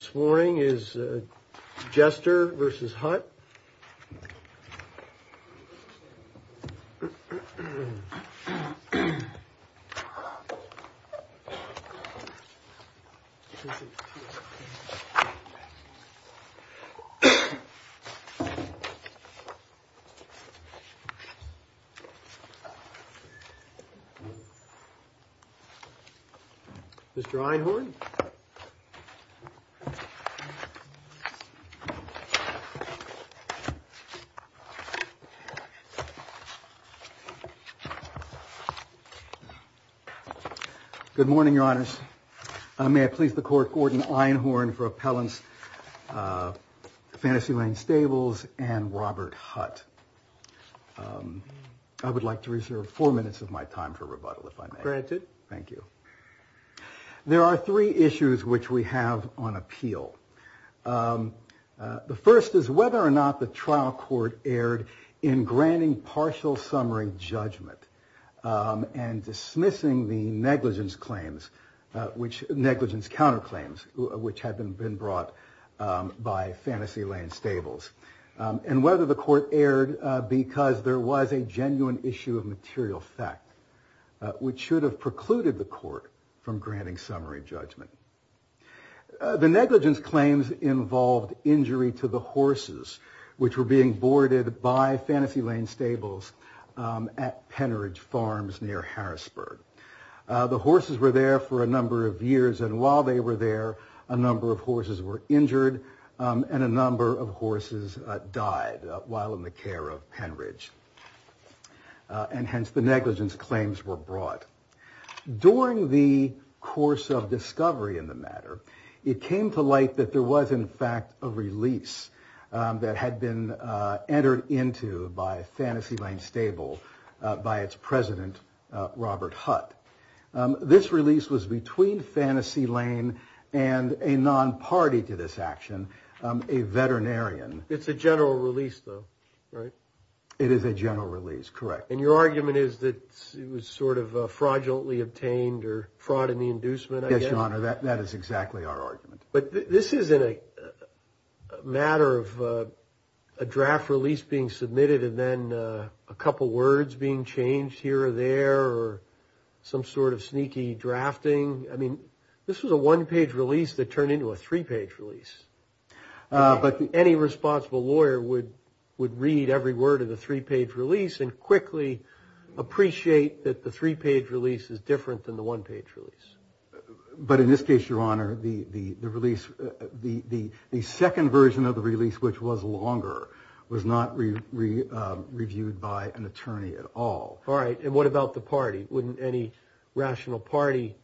This morning is Jester v. Hutt. Jester v. Hutt Good morning, your honors. May I please the court, Gordon Einhorn for appellants Fantasy Lane Stables and Robert Hutt. I would like to reserve four minutes of my time for rebuttal, if I may. Granted. Thank you. There are three issues which we have on appeal. The first is whether or not the trial court erred in granting partial summary judgment and dismissing the negligence claims, which negligence counterclaims, which had been brought by Fantasy Lane Stables, and whether the court erred because there was a genuine issue of material fact, which should have precluded the court from granting summary judgment. The negligence claims involved injury to the horses, which were being boarded by Fantasy Lane Stables at Penridge Farms near Harrisburg. The horses were there for a number of years. And while they were there, a number of horses were injured and a number of horses died while in the care of Penridge. And hence the negligence claims were brought. During the course of discovery in the matter, it came to light that there was in fact a release that had been entered into by Fantasy Lane Stable by its president, Robert Hutt. This release was between Fantasy Lane and a non-party to this action, a veterinarian. It's a general release though, right? It is a general release, correct. And your argument is that it was sort of fraudulently obtained or fraud in the inducement? Yes, Your Honor, that is exactly our argument. But this isn't a matter of a draft release being submitted and then a couple words being changed here or there or some sort of sneaky drafting. I mean, this was a one-page release that turned into a three-page release. But any responsible lawyer would read every word of the three-page release and quickly appreciate that the three-page release is different than the one-page release. But in this case, Your Honor, the second version of the release, which was longer, was not reviewed by an attorney at all. All right, and what about the party? Wouldn't any rational party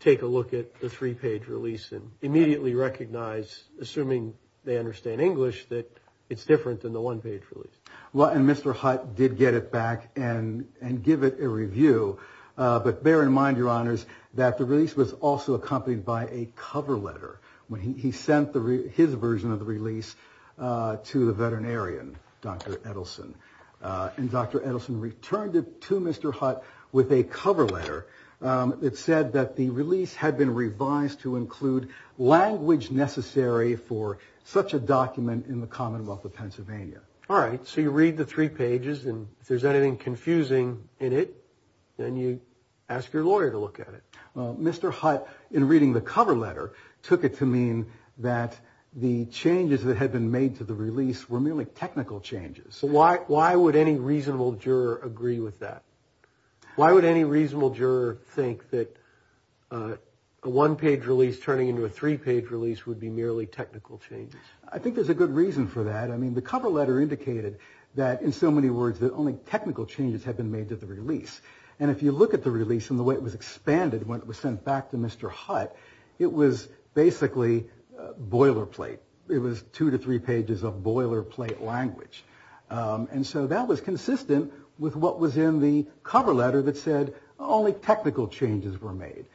take a look at the three-page release and immediately recognize, assuming they understand English, that it's different than the one-page release? Well, and Mr. Hutt did get it back and give it a review. But bear in mind, Your Honors, that the release was also accompanied by a cover letter when he sent his version of the release to the veterinarian, Dr. Edelson. And Dr. Edelson returned it to Mr. Hutt with a cover letter that said that the release had been revised to include language necessary for such a document in the Commonwealth of Pennsylvania. All right, so you read the three pages, and if there's anything confusing in it, then you ask your lawyer to look at it. Mr. Hutt, in reading the cover letter, took it to mean that the changes that had been made to the release were merely technical changes. So why would any reasonable juror agree with that? Why would any reasonable juror think that a one-page release turning into a three-page release would be merely technical changes? I think there's a good reason for that. I mean, the cover letter indicated that, in so many words, that only technical changes had been made to the release. And if you look at the release and the way it was expanded when it was sent back to Mr. Hutt, it was basically boilerplate. It was two to three pages of boilerplate language. And so that was consistent with what was in the cover letter that said only technical changes were made.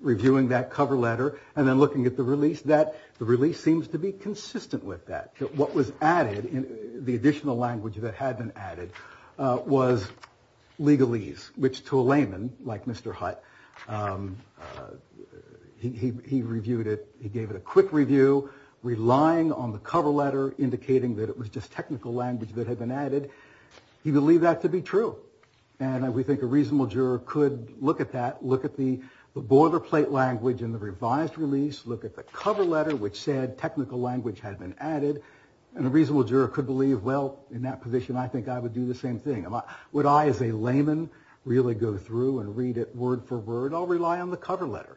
Reviewing that cover letter and then looking at the release, that the release seems to be consistent with that. What was added in the additional language that had been added was legalese, which to a layman like Mr. Hutt, he reviewed it. He gave it a quick review, relying on the cover letter, indicating that it was just technical language that had been added. He believed that to be true. And we think a reasonable juror could look at that, look at the boilerplate language in the revised release, look at the cover letter, which said technical language had been added. And a reasonable juror could believe, well, in that position, I think I would do the same thing. Would I, as a layman, really go through and read it word for word? I'll rely on the cover letter,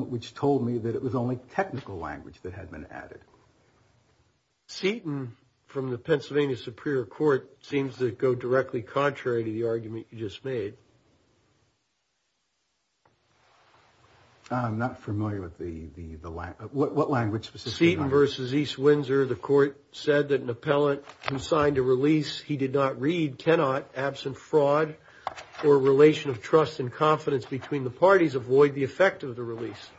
which told me that it was only technical language that had been added. Seaton, from the Pennsylvania Superior Court, seems to go directly contrary to the argument you just made. I'm not familiar with the language. What language was this? Seaton versus East Windsor. The court said that an appellant who signed a release he did not read cannot, absent fraud or relation of trust and confidence between the parties, avoid the effect of the release.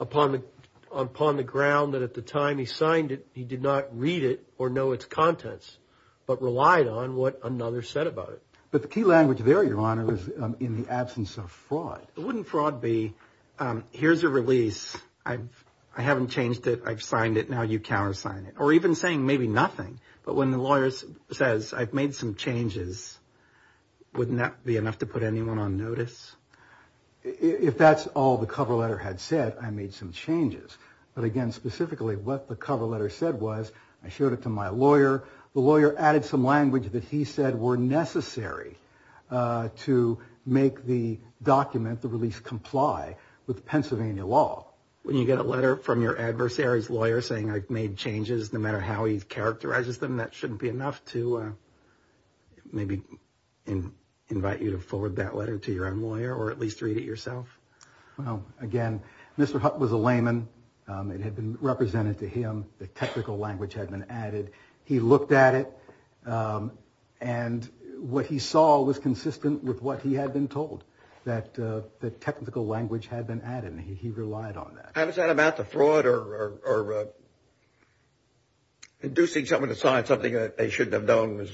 Upon the ground that at the time he signed it, he did not read it or know its contents, but relied on what another said about it. But the key language there, Your Honor, was in the absence of fraud. Wouldn't fraud be, here's a release. I haven't changed it. I've signed it. Now you countersign it. Or even saying maybe nothing. But when the lawyer says, I've made some changes, wouldn't that be enough to put anyone on notice? If that's all the cover letter had said, I made some changes. But again, specifically what the cover letter said was, I showed it to my lawyer. The lawyer added some language that he said were necessary to make the document, the release, comply with Pennsylvania law. When you get a letter from your adversary's lawyer saying I've made changes, no matter how he characterizes them, that shouldn't be enough to maybe invite you to forward that letter to your own lawyer or at least read it yourself? Well, again, Mr. Hutt was a layman. It had been represented to him. The technical language had been added. He looked at it. And what he saw was consistent with what he had been told, that the technical language had been added. And he relied on that. How is that about the fraud or inducing someone to sign something that they shouldn't have known was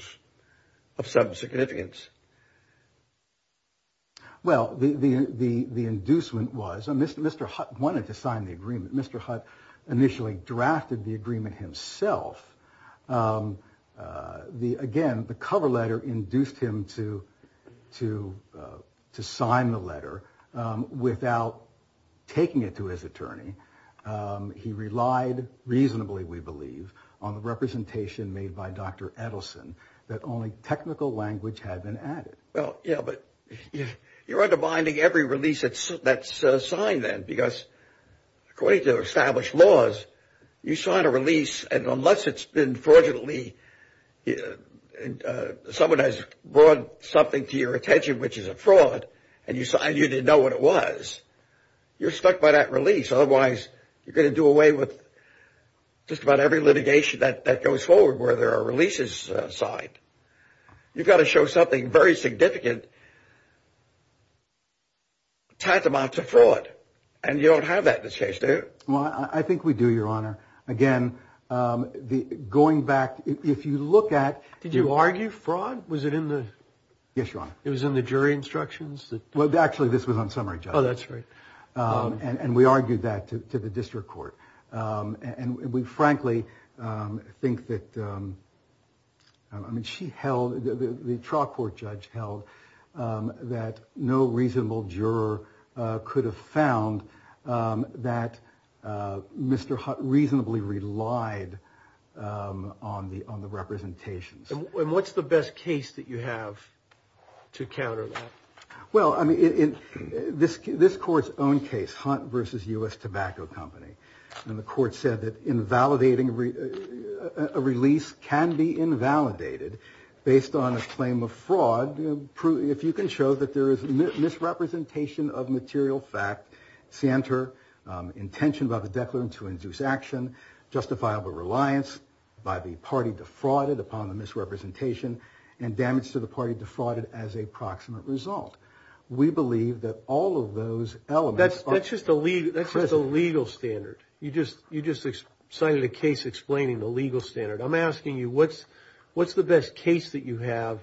of some significance? Well, the the the the inducement was a Mr. Mr. Hutt wanted to sign the agreement. Mr. Hutt initially drafted the agreement himself. The again, the cover letter induced him to to to sign the letter without taking it to his attorney. He relied reasonably, we believe, on the representation made by Dr. Edelson that only technical language had been added. Well, yeah, but you're undermining every release that's that's signed then because according to established laws, you sign a release and unless it's been fraudulently and someone has brought something to your attention, which is a fraud and you sign, you didn't know what it was, you're stuck by that release. Otherwise, you're going to do away with just about every litigation that that goes forward where there are releases signed. You've got to show something very significant. Tied them out to fraud. And you don't have that in this case, do you? Well, I think we do, your honor. Again, the going back, if you look at. Did you argue fraud? Was it in the. Yes, your honor. It was in the jury instructions that. Well, actually, this was on summary. Oh, that's right. And we argued that to the district court. And we frankly think that. I mean, she held the trial court judge held that no reasonable juror could have found that Mr. Hunt reasonably relied on the on the representations. And what's the best case that you have to counter that? Well, I mean, in this this court's own case, Hunt versus U.S. Tobacco Company, and the court said that invalidating a release can be invalidated based on a claim of fraud. If you can show that there is misrepresentation of material fact center intention about the declarant to induce action, justifiable reliance by the party defrauded upon the misrepresentation and damage to the party, defrauded as a proximate result. We believe that all of those elements. That's just a legal standard. You just you just cited a case explaining the legal standard. I'm asking you what's what's the best case that you have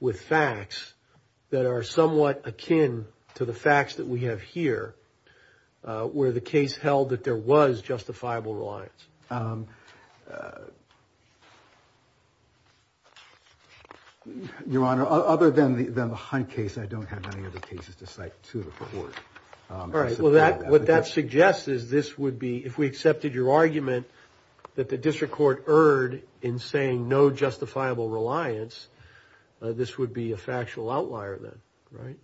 with facts that are somewhat akin to the facts that we have here, where the case held that there was justifiable reliance. Your Honor, other than the Hunt case, I don't have any other cases to cite to the court. All right. Well, that what that suggests is this would be if we accepted your argument that the district court erred in saying no justifiable reliance. This would be a factual outlier then. Right.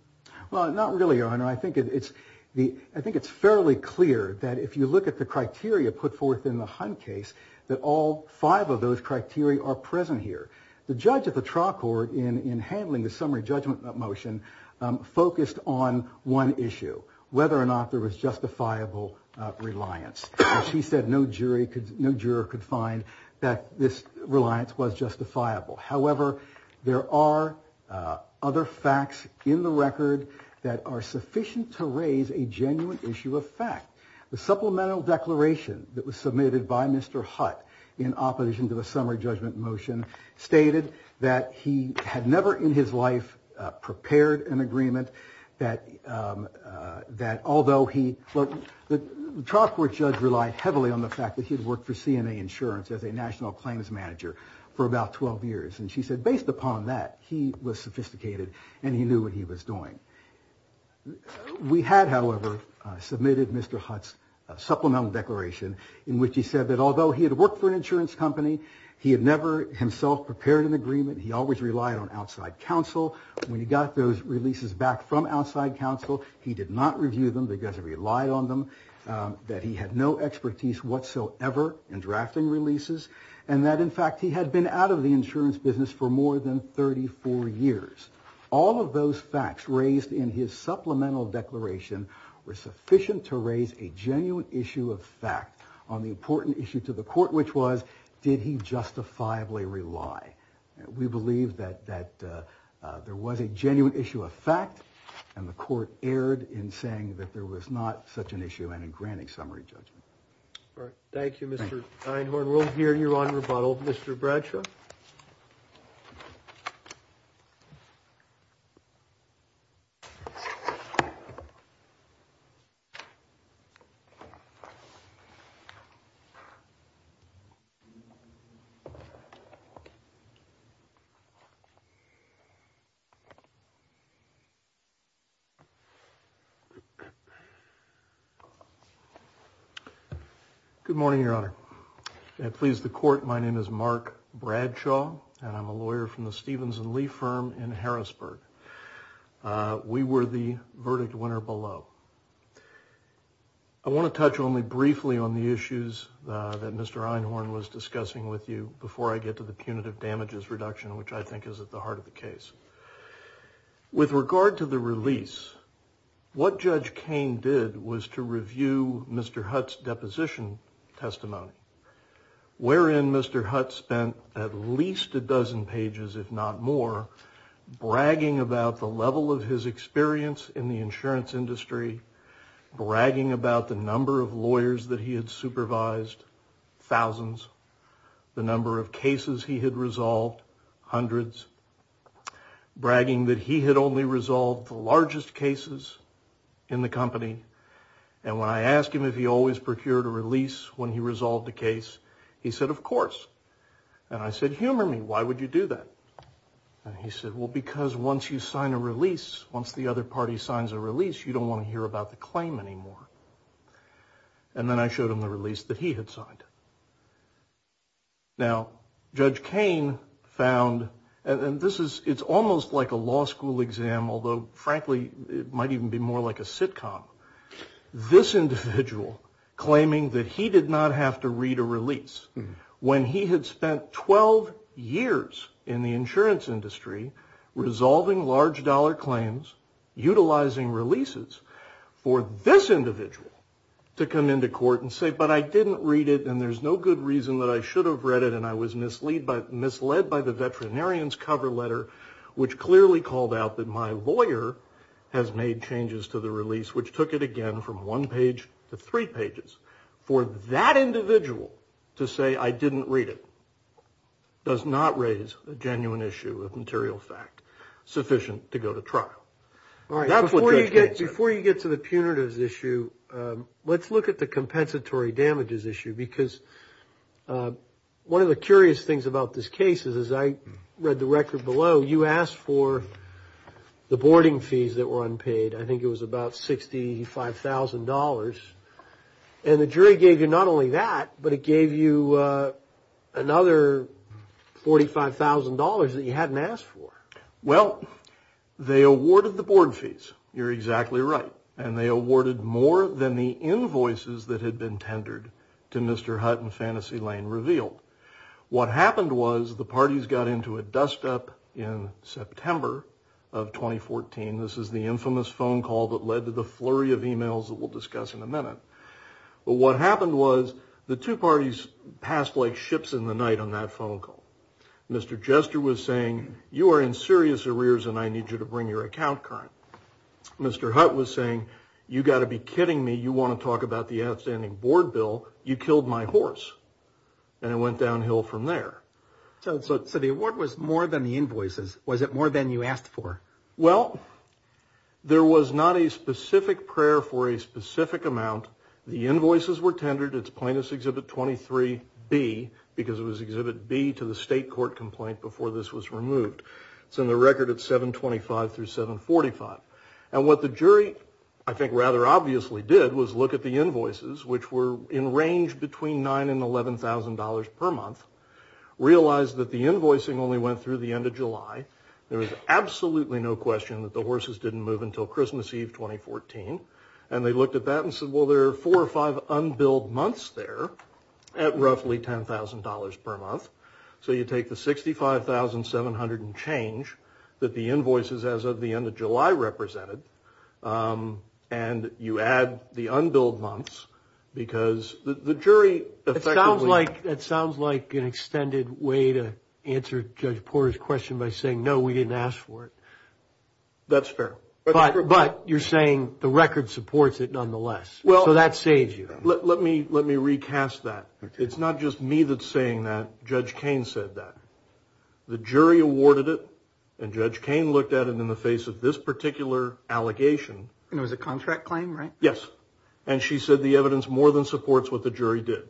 Well, not really, Your Honor. I think it's the I think it's fairly clear that if you look at the criteria put forth in the Hunt case, that all five of those criteria are present here. The judge at the trial court in handling the summary judgment motion focused on one issue, whether or not there was justifiable reliance. She said no jury could no juror could find that this reliance was justifiable. However, there are other facts in the record that are sufficient to raise a genuine issue of fact. The supplemental declaration that was submitted by Mr. Hunt in opposition to the summary judgment motion stated that he had never in his life prepared an agreement that that although he the trial court judge relied heavily on the fact that he had worked for CNA insurance as a national claims manager for about 12 years. And she said based upon that, he was sophisticated and he knew what he was doing. We had, however, submitted Mr. Hunt's supplemental declaration in which he said that although he had worked for an insurance company, he had never himself prepared an agreement. He always relied on outside counsel. When he got those releases back from outside counsel, he did not review them because he relied on them. That he had no expertise whatsoever in drafting releases and that, in fact, he had been out of the insurance business for more than 34 years. All of those facts raised in his supplemental declaration were sufficient to raise a genuine issue of fact on the important issue to the court, which was, did he justifiably rely? We believe that there was a genuine issue of fact and the court erred in saying that there was not such an issue and in granting summary judgment. Thank you, Mr. Einhorn. We'll hear you on rebuttal. Mr. Bradshaw. Good morning, Your Honor. Please, the court. My name is Mark Bradshaw and I'm a lawyer from the Stevens and Lee firm in Harrisburg. We were the verdict winner below. I want to touch only briefly on the issues that Mr. Einhorn was discussing with you before I get to the punitive damages reduction, which I think is at the heart of the case. With regard to the release, what Judge Cain did was to review Mr. Hutt's deposition testimony, wherein Mr. Hutt spent at least a dozen pages, if not more, bragging about the level of his experience in the insurance industry, bragging about the number of lawyers that he had supervised, thousands, the number of cases he had resolved, hundreds, bragging that he had only resolved the largest cases in the company. And when I asked him if he always procured a release when he resolved the case, he said, of course. And I said, humor me. Why would you do that? He said, well, because once you sign a release, once the other party signs a release, you don't want to hear about the claim anymore. And then I showed him the release that he had signed. Now, Judge Cain found, and this is, it's almost like a law school exam, although, frankly, it might even be more like a sitcom, this individual claiming that he did not have to read a release, when he had spent 12 years in the insurance industry, resolving large dollar claims, utilizing releases for this individual to come into court and say, but I didn't read it, and there's no good reason that I should have read it, and I was misled by the veterinarian's cover letter, which clearly called out that my lawyer has made changes to the release, which took it again from one page to three pages. For that individual to say, I didn't read it, does not raise a genuine issue of material fact sufficient to go to trial. All right, before you get to the punitives issue, let's look at the compensatory damages issue, because one of the curious things about this case is, as I read the record below, you asked for the boarding fees that were unpaid. I think it was about $65,000, and the jury gave you not only that, but it gave you another $45,000 that you hadn't asked for. Well, they awarded the board fees. You're exactly right, and they awarded more than the invoices that had been tendered to Mr. Hutt and Fantasy Lane Revealed. What happened was the parties got into a dust-up in September of 2014. This is the infamous phone call that led to the flurry of emails that we'll discuss in a minute. What happened was the two parties passed like ships in the night on that phone call. Mr. Jester was saying, you are in serious arrears, and I need you to bring your account current. Mr. Hutt was saying, you got to be kidding me. You want to talk about the outstanding board bill? You killed my horse, and it went downhill from there. So the award was more than the invoices. Was it more than you asked for? Well, there was not a specific prayer for a specific amount. The invoices were tendered. It's plaintiff's Exhibit 23B, because it was Exhibit B to the state court complaint before this was removed. It's in the record at 725 through 745. And what the jury, I think rather obviously, did was look at the invoices, which were in range between $9,000 and $11,000 per month, realized that the invoicing only went through the end of July. There was absolutely no question that the horses didn't move until Christmas Eve, 2014. And they looked at that and said, well, there are four or five unbilled months there at roughly $10,000 per month. So you take the $65,700 and change that the invoices as of the end of July represented, and you add the unbilled months, because the jury effectively- It sounds like an extended way to answer Judge Porter's question by saying, no, we didn't ask for it. That's fair. But you're saying the record supports it nonetheless. So that saves you. Let me recast that. It's not just me that's saying that. Judge Cain said that. The jury awarded it, and Judge Cain looked at it in the face of this particular allegation. And it was a contract claim, right? Yes. And she said the evidence more than supports what the jury did.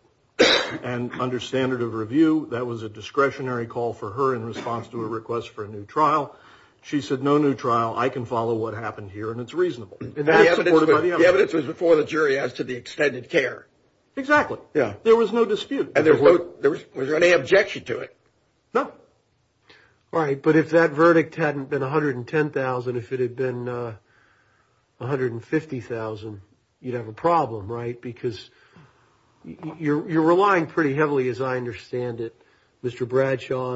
And under standard of review, that was a discretionary call for her in response to a request for a new trial. She said, no new trial. I can follow what happened here, and it's reasonable. And that's supported by the evidence. The evidence was before the jury as to the extended care. Exactly. There was no dispute. And was there any objection to it? No. All right, but if that verdict hadn't been $110,000, if it had been $150,000, you'd have a problem, right? Because you're relying pretty heavily, as I understand it, Mr. Bradshaw,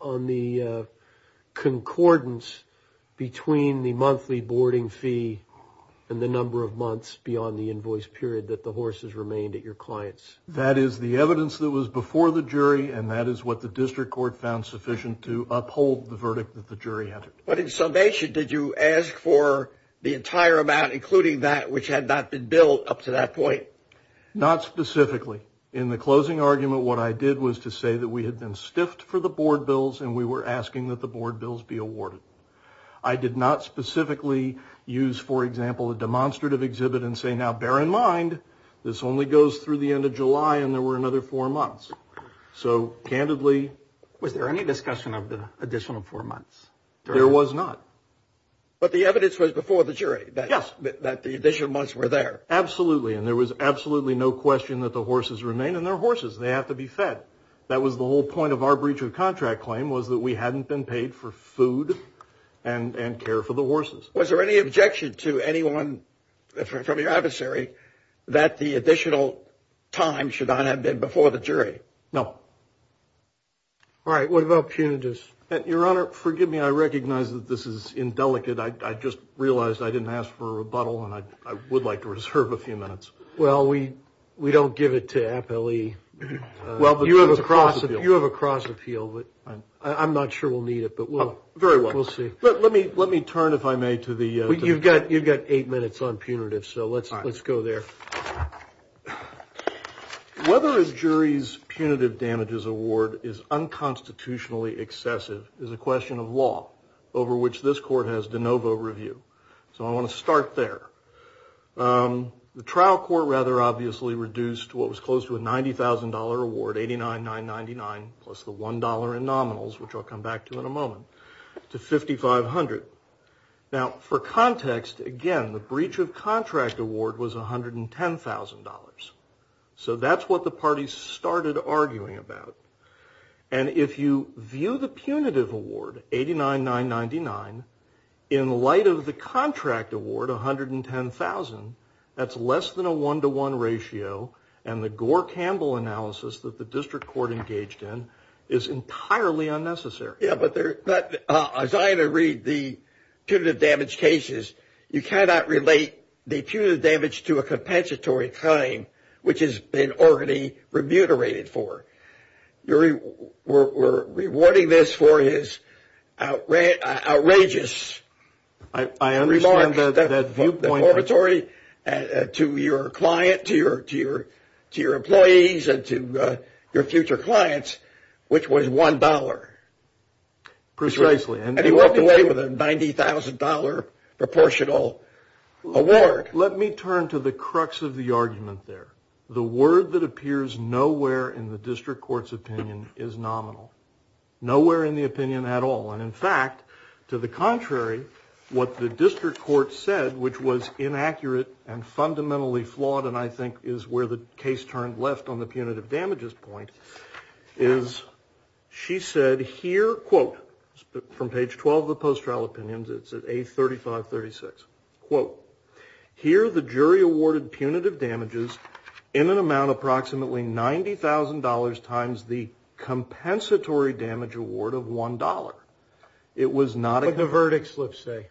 on the concordance between the monthly boarding fee and the number of months beyond the invoice period that the horse has remained at your client's. That is the evidence that was before the jury, and that is what the district court found sufficient to uphold the verdict that the jury entered. But in summation, did you ask for the entire amount, including that which had not been billed up to that point? Not specifically. In the closing argument, what I did was to say that we had been stiffed for the board bills, and we were asking that the board bills be awarded. I did not specifically use, for example, a demonstrative exhibit and say, now, bear in mind, this only goes through the end of July, and there were another four months. So, candidly— Was there any discussion of the additional four months? There was not. But the evidence was before the jury— Yes. —that the additional months were there. Absolutely, and there was absolutely no question that the horses remain, and they're horses. They have to be fed. That was the whole point of our breach of contract claim, was that we hadn't been paid for food and care for the horses. Was there any objection to anyone from your adversary that the additional time should not have been before the jury? No. All right, what about punitives? Your Honor, forgive me, I recognize that this is indelicate. I just realized I didn't ask for a rebuttal, and I would like to reserve a few minutes. Well, we don't give it to Appellee. You have a cross appeal, but I'm not sure we'll need it, but we'll see. Very well. Let me turn, if I may, to the— You've got eight minutes on punitives, so let's go there. Whether a jury's punitive damages award is unconstitutionally excessive is a question of law, over which this court has de novo review. So I want to start there. The trial court rather obviously reduced what was close to a $90,000 award, $89,999 plus the $1 in nominals, which I'll come back to in a moment, to $5,500. Now, for context, again, the breach of contract award was $110,000. So that's what the parties started arguing about. And if you view the punitive award, $89,999, in light of the contract award, $110,000, that's less than a one-to-one ratio, and the Gore-Campbell analysis that the district court engaged in is entirely unnecessary. Yeah, but as I read the punitive damage cases, you cannot relate the punitive damage to a compensatory crime, which has been already remunerated for. You're rewarding this for his outrageous remarks. I understand that viewpoint. To your client, to your employees, and to your future clients, which was $1. Precisely. And he walked away with a $90,000 proportional award. Let me turn to the crux of the argument there. The word that appears nowhere in the district court's opinion is nominal. Nowhere in the opinion at all. And in fact, to the contrary, what the district court said, which was inaccurate and fundamentally flawed, and I think is where the case turned left on the punitive damages point, is she said here, quote, from page 12 of the post-trial opinions, it's at A3536, quote, here the jury awarded punitive damages in an amount approximately $90,000 times the compensatory damage award of $1. But the verdict slips say.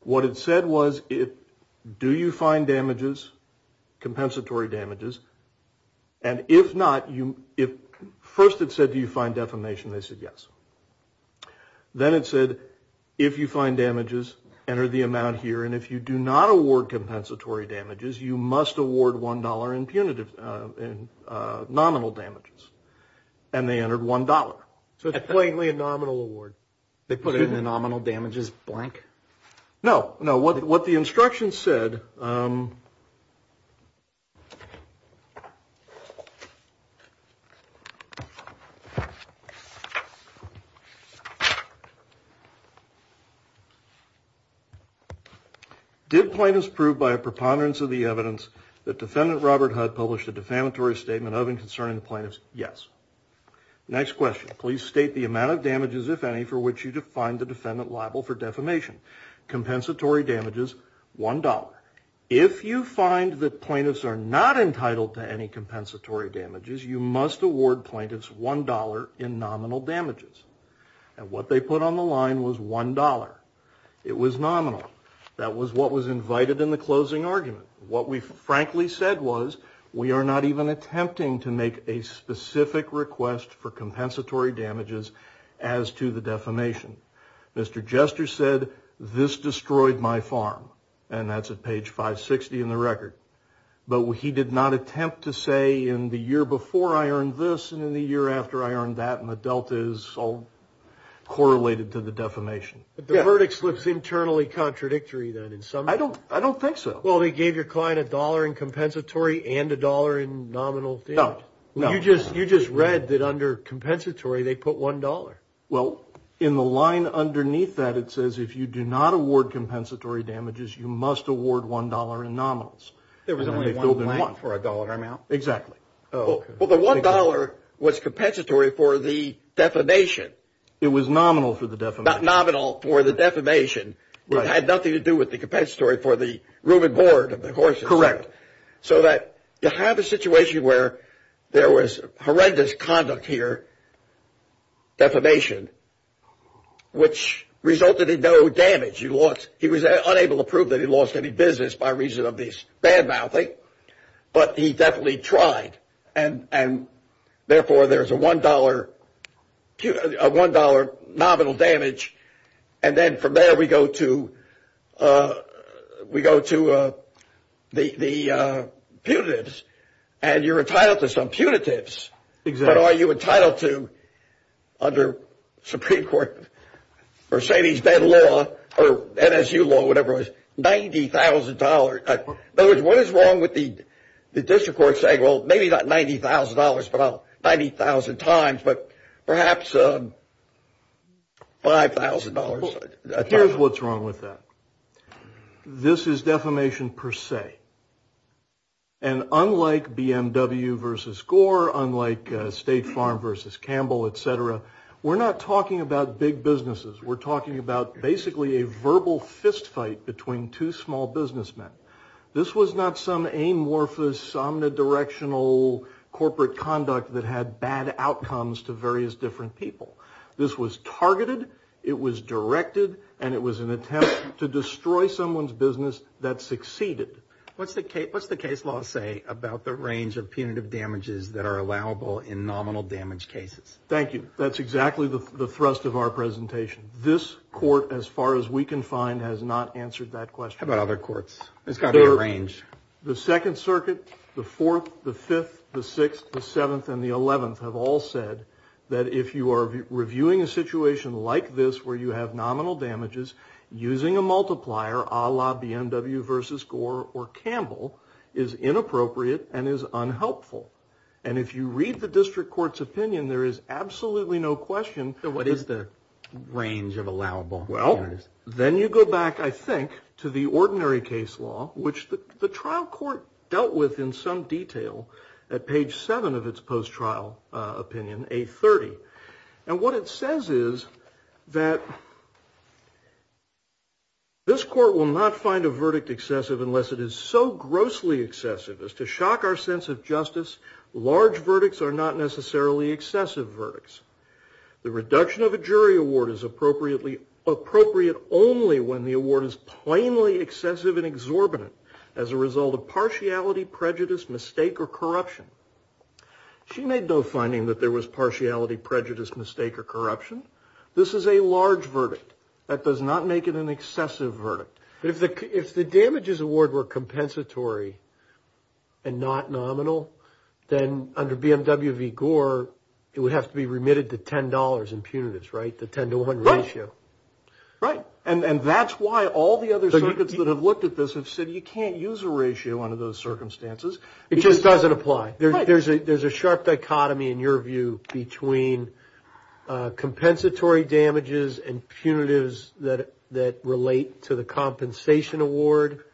What it said was, do you find damages, compensatory damages? And if not, first it said, do you find defamation? They said yes. Then it said, if you find damages, enter the amount here. And if you do not award compensatory damages, you must award $1 in nominal damages. And they entered $1. So it's plainly a nominal award. They put it in the nominal damages blank? No. No, what the instructions said. Did plaintiffs prove by a preponderance of the evidence that Defendant Robert Hudd published a defamatory statement of and concerning the plaintiffs? Yes. Next question. Please state the amount of damages, if any, for which you defined the defendant liable for defamation. Compensatory damages, $1. If you find that plaintiffs are not entitled to any compensatory damages, you must award plaintiffs $1 in nominal damages. And what they put on the line was $1. It was nominal. That was what was invited in the closing argument. What we frankly said was, we are not even attempting to make a specific request for compensatory damages as to the defamation. Mr. Jester said, this destroyed my farm. And that's at page 560 in the record. But he did not attempt to say, in the year before I earned this, and in the year after I earned that, and the delta is all correlated to the defamation. But the verdict slips internally contradictory, then. I don't think so. Well, they gave your client $1 in compensatory and $1 in nominal damage. No. You just read that under compensatory, they put $1. Well, in the line underneath that, it says if you do not award compensatory damages, you must award $1 in nominals. There was only $1 for a dollar amount? Exactly. Well, the $1 was compensatory for the defamation. It was nominal for the defamation. Not nominal for the defamation. It had nothing to do with the compensatory for the room and board of the horses. Correct. So that you have a situation where there was horrendous conduct here, defamation, which resulted in no damage. He was unable to prove that he lost any business by reason of this bad-mouthing. But he definitely tried. And therefore, there's a $1 nominal damage. And then from there, we go to the putatives. And you're entitled to some putatives. Exactly. But are you entitled to, under Supreme Court, Mercedes-Benz law, or NSU law, whatever it is, $90,000? In other words, what is wrong with the district court saying, well, maybe not $90,000, but 90,000 times, but perhaps $5,000? Here's what's wrong with that. This is defamation per se. And unlike BMW versus Gore, unlike State Farm versus Campbell, et cetera, we're not talking about big businesses. We're talking about basically a verbal fistfight between two small businessmen. This was not some amorphous, omnidirectional corporate conduct that had bad outcomes to various different people. This was targeted, it was directed, and it was an attempt to destroy someone's business that succeeded. What's the case law say about the range of punitive damages that are allowable in nominal damage cases? Thank you. That's exactly the thrust of our presentation. This court, as far as we can find, has not answered that question. How about other courts? There's got to be a range. The Second Circuit, the Fourth, the Fifth, the Sixth, the Seventh, and the Eleventh have all said that if you are reviewing a situation like this where you have nominal damages using a multiplier, a la BMW versus Gore or Campbell, is inappropriate and is unhelpful. And if you read the district court's opinion, there is absolutely no question... What is the range of allowable damages? Well, then you go back, I think, to the ordinary case law, which the trial court dealt with in some detail at page 7 of its post-trial opinion, 830. And what it says is that this court will not find a verdict excessive unless it is so grossly excessive as to shock our sense of justice, large verdicts are not necessarily excessive verdicts. The reduction of a jury award is appropriate only when the award is plainly excessive and exorbitant as a result of partiality, prejudice, mistake, or corruption. She made no finding that there was partiality, prejudice, mistake, or corruption. This is a large verdict. That does not make it an excessive verdict. But if the damages award were compensatory and not nominal, then under BMW v. Gore, it would have to be remitted to $10 in punitives, right? The 10 to 1 ratio. Right. And that's why all the other circuits that have looked at this have said you can't use a ratio under those circumstances. It just doesn't apply. Right. There's a sharp dichotomy in your view between compensatory damages and punitives that relate to the compensation award,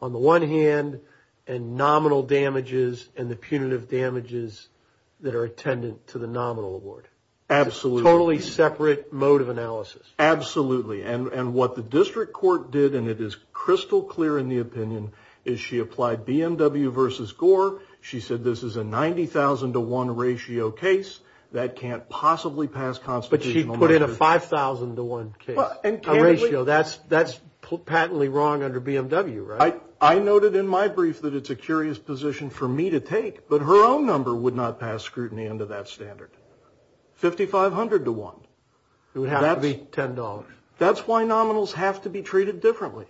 on the one hand, and nominal damages and the punitive damages that are attendant to the nominal award. Absolutely. Absolutely. And what the district court did, and it is crystal clear in the opinion, is she applied BMW v. Gore. She said this is a 90,000 to 1 ratio case that can't possibly pass constitutional measures. But she put in a 5,000 to 1 case. A ratio. That's patently wrong under BMW, right? I noted in my brief that it's a curious position for me to take, but her own number would not pass scrutiny under that standard. 5,500 to 1. It would have to be $10. That's why nominals have to be treated differently.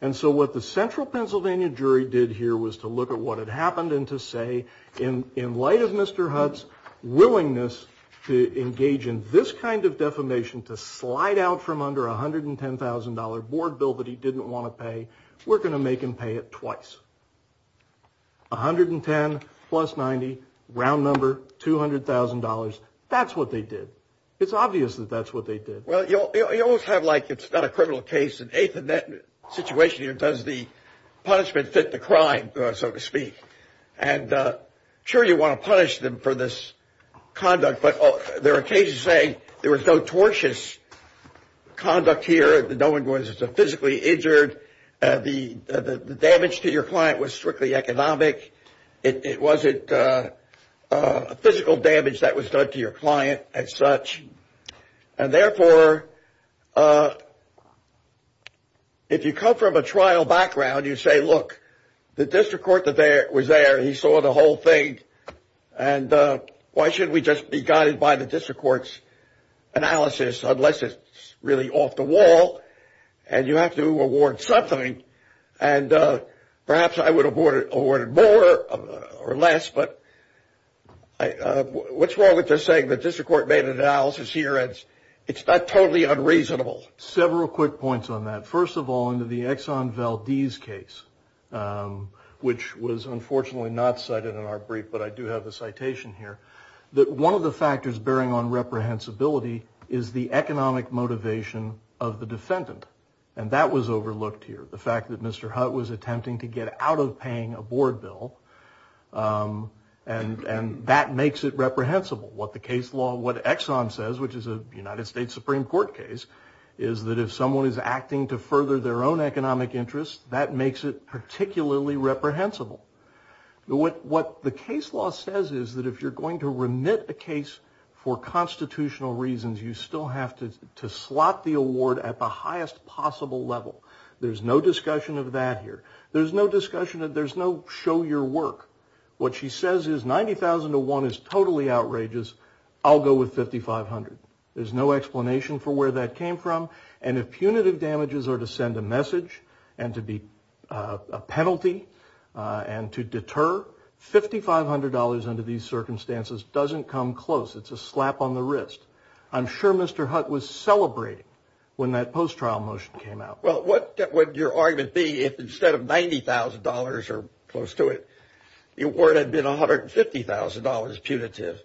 And so what the central Pennsylvania jury did here was to look at what had happened and to say, in light of Mr. Hutz's willingness to engage in this kind of defamation, to slide out from under a $110,000 board bill that he didn't want to pay, we're going to make him pay it twice. $110,000 plus $90,000. Round number, $200,000. That's what they did. It's obvious that that's what they did. Well, you always have, like, it's not a criminal case. In that situation here, does the punishment fit the crime, so to speak? And sure, you want to punish them for this conduct, but there are cases saying there was no tortious conduct here. No one was physically injured. The damage to your client was strictly economic. It wasn't physical damage that was done to your client as such. And therefore, if you come from a trial background, you say, look, the district court that was there, he saw the whole thing, and why should we just be guided by the district court's analysis unless it's really off the wall and you have to award something? And perhaps I would have awarded more or less, but what's wrong with just saying that the district court made an analysis here and it's not totally unreasonable? Several quick points on that. First of all, in the Exxon Valdez case, which was unfortunately not cited in our brief, but I do have a citation here, that one of the factors bearing on reprehensibility is the economic motivation of the defendant. And that was overlooked here. The fact that Mr. Hutt was attempting to get out of paying a board bill, and that makes it reprehensible. What the case law, what Exxon says, which is a United States Supreme Court case, is that if someone is acting to further their own economic interests, that makes it particularly reprehensible. What the case law says is that if you're going to remit a case for constitutional reasons, you still have to slot the award at the highest possible level. There's no discussion of that here. There's no discussion, there's no show your work. What she says is, if $90,000 to one is totally outrageous, I'll go with $5,500. There's no explanation for where that came from. And if punitive damages are to send a message, and to be a penalty, and to deter, $5,500 under these circumstances doesn't come close. It's a slap on the wrist. I'm sure Mr. Hutt was celebrating when that post-trial motion came out. Well, what would your argument be if instead of $90,000 or close to it, the award had been $150,000 punitive?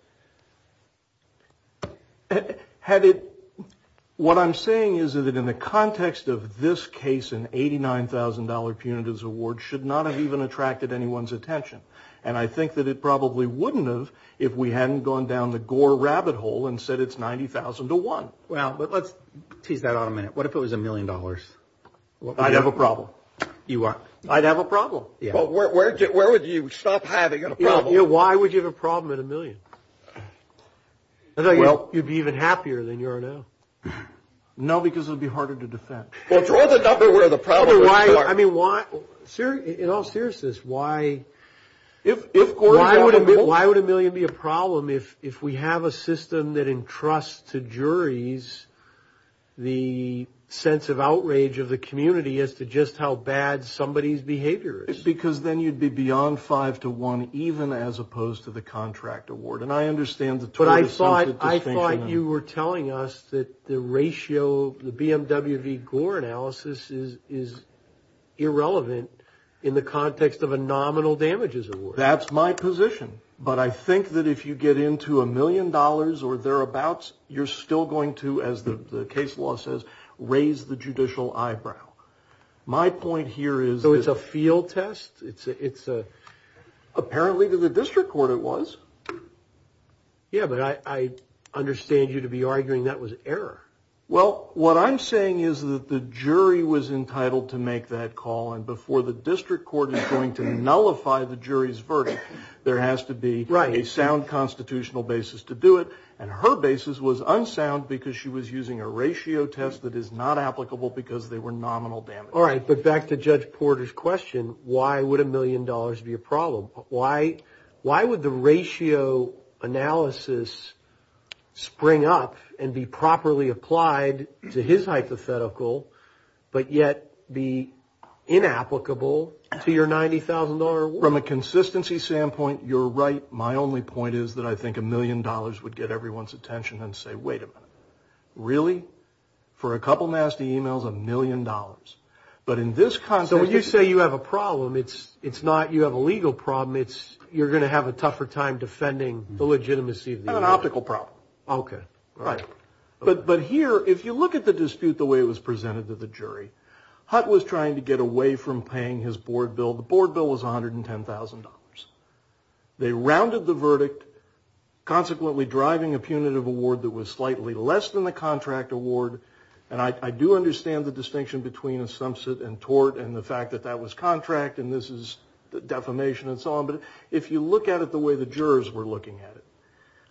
What I'm saying is that in the context of this case, an $89,000 punitive award should not have even attracted anyone's attention. And I think that it probably wouldn't have if we hadn't gone down the Gore rabbit hole and said it's $90,000 to one. Well, let's tease that out a minute. What if it was $1 million? I'd have a problem. I'd have a problem. Where would you stop having a problem? Why would you have a problem at $1 million? I thought you'd be even happier than you are now. No, because it would be harder to defend. Well, draw the number where the problem would start. In all seriousness, why would $1 million be a problem if we have a system that entrusts to juries the sense of outrage of the community as to just how bad somebody's behavior is? Because then you'd be beyond five to one, even as opposed to the contract award. But I thought you were telling us that the ratio of the BMW v. Gore analysis is irrelevant in the context of a nominal damages award. That's my position. But I think that if you get into $1 million or thereabouts, you're still going to as the case law says, raise the judicial eyebrow. My point here is... So it's a field test? Apparently to the district court it was. Yeah, but I understand you to be arguing that was error. Well, what I'm saying is that the jury was entitled to make that call, and before the district court is going to nullify the jury's verdict, there has to be a sound constitutional basis to do it. And her basis was unsound because she was using a ratio test that is not applicable because they were nominal damages. All right, but back to Judge Porter's question, why would $1 million be a problem? Why would the ratio analysis spring up and be properly applied to his hypothetical but yet be inapplicable to your $90,000 award? From a consistency standpoint, you're right. My only point is that I think $1 million would get everyone's attention and say, wait a minute, really? For a couple nasty emails, $1 million? But in this context... So when you say you have a problem, it's not you have a legal problem, you're going to have a tougher time defending the legitimacy of the email? Not an optical problem. But here, if you look at the dispute the way it was presented to the jury, Hutt was trying to get away from paying his board bill. The board bill was $110,000. They rounded the verdict, consequently driving a punitive award that was slightly less than the contract award, and I do understand the distinction between a sum sit and tort and the fact that that was contract and this is defamation and so on, but if you look at it the way the jurors were looking at it...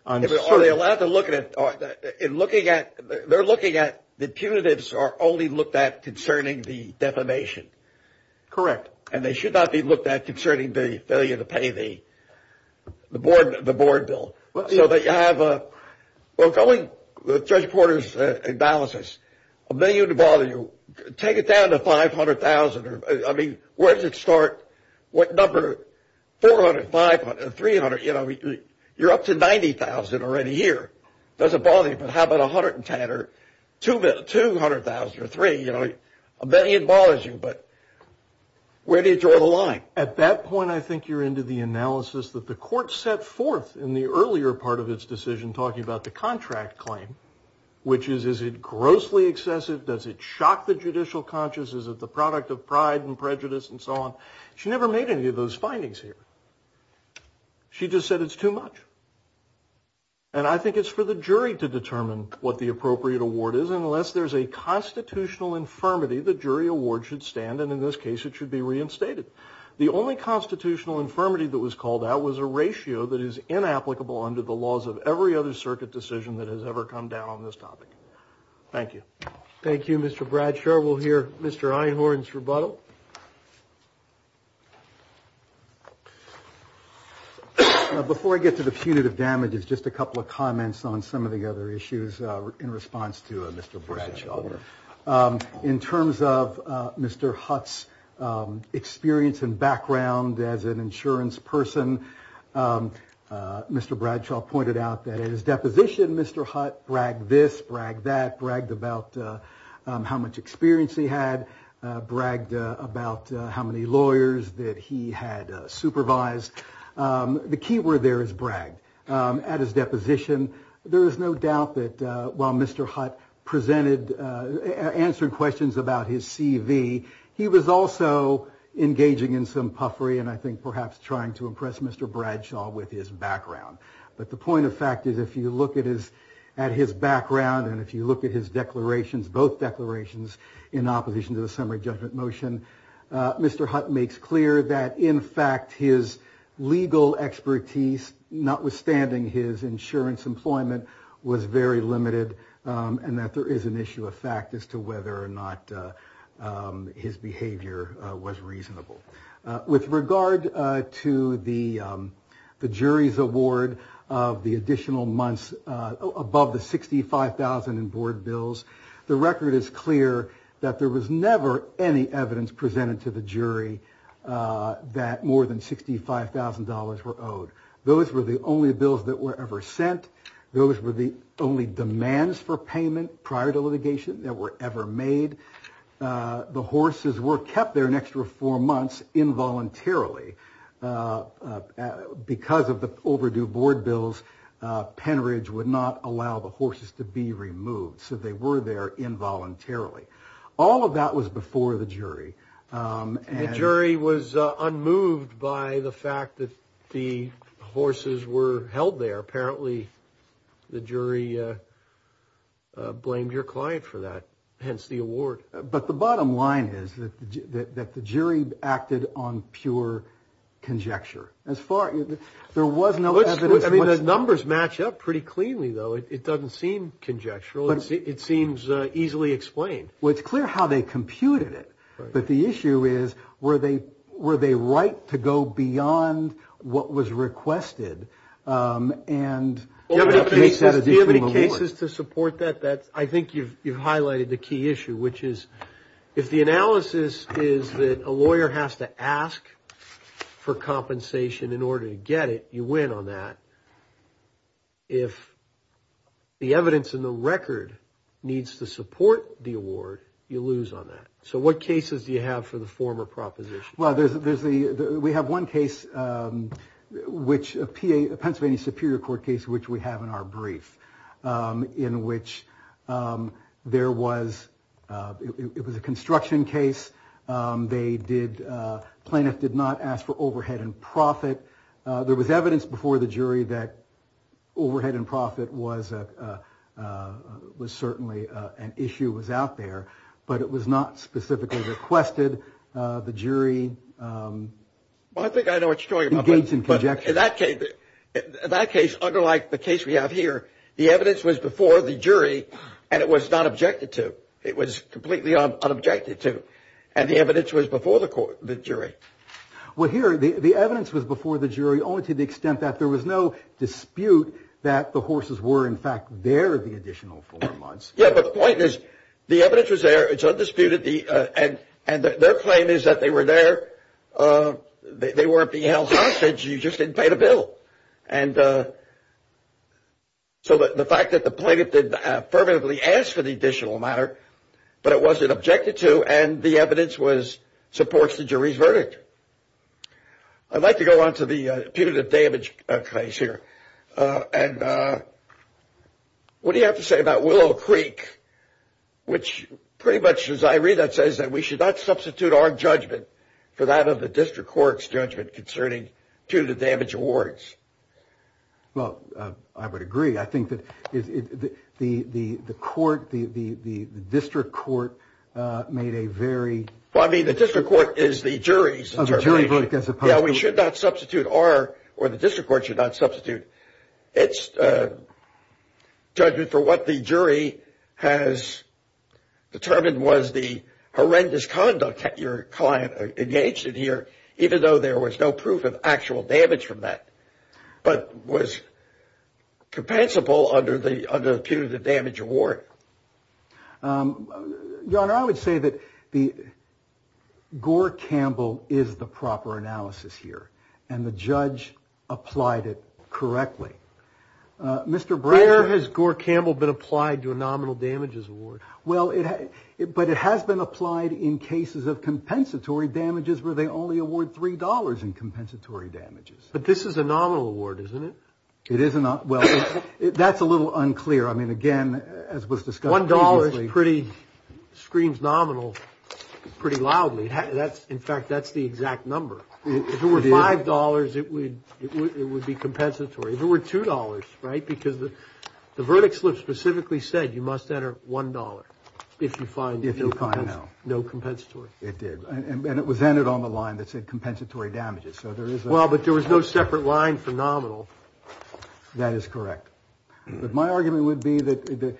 Are they allowed to look at it? They're looking at the punitives are only looked at concerning the defamation? Correct. And they should not be looked at concerning the failure to pay the board bill. So that you have a... Well, going with Judge Porter's analysis, a million would bother you. Take it down to $500,000. Where does it start? What number? $400,000? $500,000? $300,000? You're up to $90,000 already here. Doesn't bother you, but how about $110,000? $200,000? $300,000? A million bothers you, but where do you draw the line? At that point, I think you're into the analysis that the court set forth in the earlier part of its decision talking about the contract claim, which is, is it grossly excessive? Does it shock the judicial consciousness of the product of pride and prejudice and so on? She never made any of those findings here. She just said it's too much. And I think it's for the jury to determine what the appropriate award is unless there's a constitutional infirmity the jury award should stand and in this case it should be reinstated. The only constitutional infirmity that was called out was a ratio that is inapplicable under the laws of every other circuit decision that has ever come down on this topic. Thank you. Thank you, Mr. Bradshaw. We'll hear Mr. Einhorn's rebuttal. Before I get to the punitive damages, just a couple of comments on some of the other issues in response to Mr. Bradshaw. In terms of Mr. Hutt's experience and background as an insurance person, Mr. Bradshaw pointed out that in his deposition Mr. Hutt bragged this, bragged that, bragged about how much experience he had, bragged about how many lawyers that he had supervised. The key word there is bragged. At his deposition there is no doubt that while Mr. Hutt answered questions about his CV, he was also engaging in some puffery and I think perhaps trying to impress Mr. Bradshaw with his background. The point of fact is if you look at his background and if you look at his declarations, both declarations in opposition to the summary judgment motion, Mr. Hutt makes clear that in fact his legal expertise notwithstanding his insurance employment was very limited and that there is an issue of fact as to whether or not his behavior was reasonable. With regard to the jury's award of the additional months above the $65,000 in board bills, the record is clear that there was never any evidence presented to the jury that more than $65,000 were owed. Those were the only demands for payment prior to litigation that were ever made. The horses were kept there an extra four months involuntarily because of the overdue board bills Penridge would not allow the horses to be removed, so they were there involuntarily. All of that was before the jury. The jury was unmoved by the fact that the horses were removed. The jury blamed your client for that, hence the award. But the bottom line is that the jury acted on pure conjecture. There was no evidence. The numbers match up pretty cleanly, though. It doesn't seem conjectural. It seems easily explained. Well, it's clear how they computed it. But the issue is were they right to go beyond what was requested and... Do you have any cases to support that? I think you've highlighted the key issue, which is if the analysis is that a lawyer has to ask for compensation in order to get it, you win on that. If the evidence in the record needs to support the award, you lose on that. So what cases do you have for the former proposition? We have one case which a Pennsylvania Superior Court case, which we have in our brief, in which there was a construction case. Plaintiff did not ask for overhead and profit. There was evidence before the jury that overhead and profit was certainly an issue that was out there. But it was not specifically requested. The jury... Well, I think I know what you're talking about. In that case, unlike the case we have here, the evidence was before the jury and it was not objected to. It was completely unobjected to. And the evidence was before the jury. Well, here, the evidence was before the jury only to the extent that there was no dispute that the horses were, in fact, there the additional four months. Yeah, but the point is, the evidence was there. It's undisputed. And their claim is that they were there. They weren't being held hostage. You just didn't pay the bill. So the fact that the plaintiff didn't affirmatively ask for the additional amount, but it wasn't objected to, and the evidence supports the jury's verdict. I'd like to go on to the punitive damage case here. What do you have to say about Willow Creek, which, pretty much as I read that, says that we should not substitute our judgment for that of the district court's judgment concerning two of the damage awards? Well, I would agree. I think that the court, the district court made a very Well, I mean, the district court is the jury's interpretation. Yeah, we should not substitute our, or the district court should not substitute its judgment for what the jury has determined was the horrendous conduct that your client engaged in here, even though there was no proof of actual damage from that, but was compensable under the punitive damage award. Your Honor, I would say that the Gore Campbell is the proper analysis here. And the judge applied it correctly. Where has Gore Campbell been applied to a nominal damages award? Well, but it has been applied in cases of compensatory damages where they only award three dollars in compensatory damages. But this is a nominal award, isn't it? It is not. Well, that's a little unclear. I mean, again, as was discussed previously. One dollar screams nominal pretty loudly. In fact, that's the exact number. If it were five dollars, it would be compensatory. If it were two dollars, right, because the verdict slip specifically said you must enter one dollar if you find no compensatory. It did. And it was entered on the line that said compensatory damages. Well, but there was no separate line for nominal. That is correct. But my argument would be that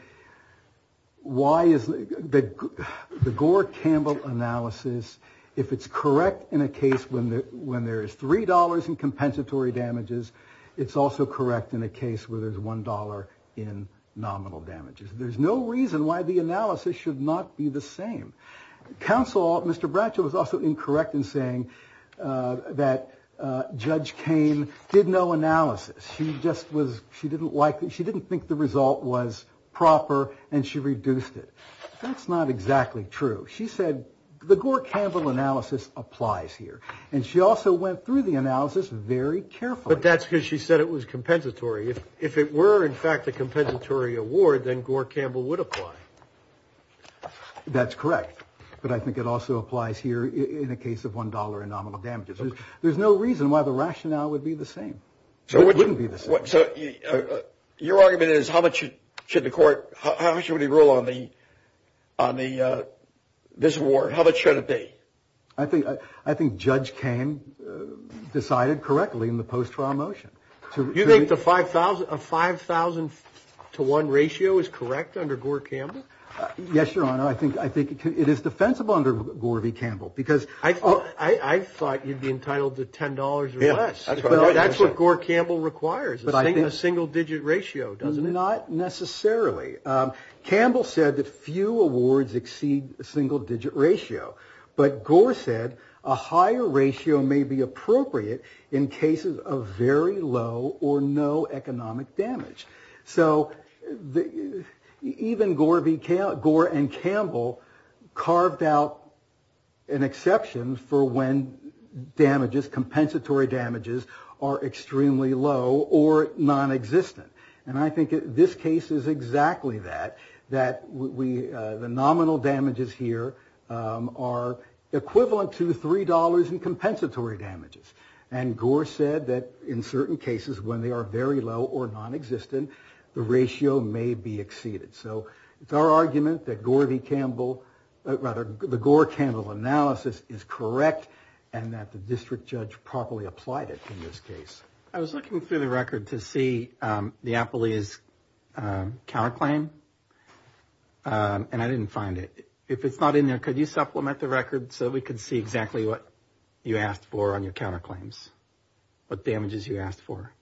why is the Gore Campbell analysis, if it's correct in a case when there is three dollars in compensatory damages, it's also correct in a case where there's one dollar in nominal damages. There's no reason why the analysis should not be the same. Counsel, Mr. Bratcher, was also incorrect in saying that Judge Cain did no analysis. She just was, she didn't like, she didn't think the result was proper and she reduced it. That's not exactly true. She said the Gore Campbell analysis applies here. And she also went through the analysis very carefully. But that's because she said it was compensatory. If it were in fact a compensatory award then Gore Campbell would apply. That's correct. But I think it also applies here in a case of one dollar in nominal damages. There's no reason why the rationale would be the same. It wouldn't be the same. So your argument is how much should the court, how much should we rule on the this award? How much should it be? I think Judge Cain decided correctly in the post-trial motion. You think a 5,000 to 1 ratio is correct under Gore Campbell? Yes, Your Honor. I think it is defensible under Gore v. Campbell. I thought you'd be entitled to $10 or less. That's what Gore Campbell requires. A single digit ratio, doesn't it? Not necessarily. Campbell said that few awards exceed a single digit ratio. But Gore said a higher ratio may be appropriate in cases of very low or no economic damage. So even Gore v. Campbell carved out an exception for when damages, compensatory damages, are extremely low or non-existent. And I think this case is exactly that. That the nominal damages here are equivalent to $3 in compensatory damages. And Gore said that in certain cases when they are very low or non-existent the ratio may be exceeded. So it's our argument that Gore v. Campbell, the Gore-Campbell analysis is correct and that the district judge properly applied it in this case. I was looking through the record to see the Appalachian counterclaim and I didn't find it. If it's not in there, could you supplement the record so we can see exactly what you asked for on your counterclaims? What damages you asked for?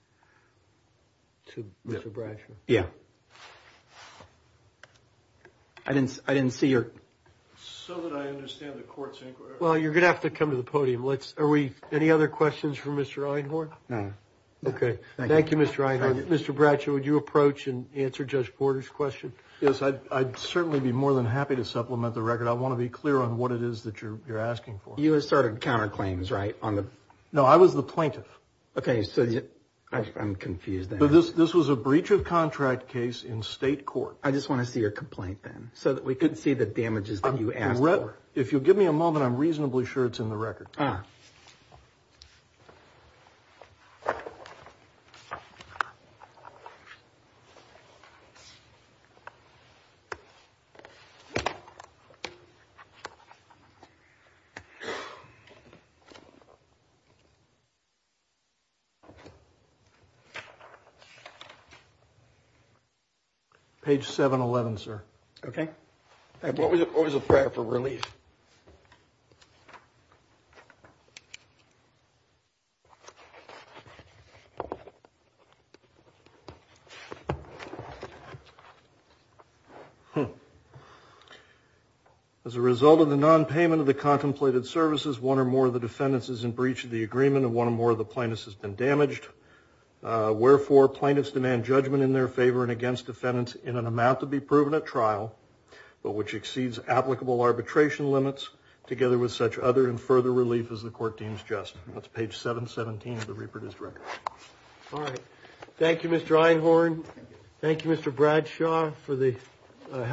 To Mr. Bratcher? Yeah. I didn't see your... So that I understand the court's inquiry... Well, you're going to have to come to the podium. Any other questions for Mr. Einhorn? No. Okay. Thank you, Mr. Einhorn. Mr. Bratcher, would you approach and answer Judge Porter's question? Yes, I'd certainly be more than happy to supplement the record. I want to be clear on what it is that you're asking for. You asserted counterclaims, right? No, I was the plaintiff. I'm confused. This was a breach of contract case in state court. I just want to see your complaint then so that we can see the damages that you asked for. If you'll give me a moment, I'm reasonably sure it's in the record. Okay. Page 711, sir. Okay. What was the prayer for relief? Hmm. As a result of the nonpayment of the contemplated services, one or more of the defendants is in breach of the agreement and one or more of the plaintiffs has been damaged. Wherefore, plaintiffs demand judgment in their favor and against defendants in an amount to be proven at trial, but which exceeds applicable arbitration limits together with such other and further relief as the court deems just. That's page 717 of the reproduced record. All right. Thank you, Mr. Einhorn. Thank you, Mr. Bradshaw, for the helpful argument.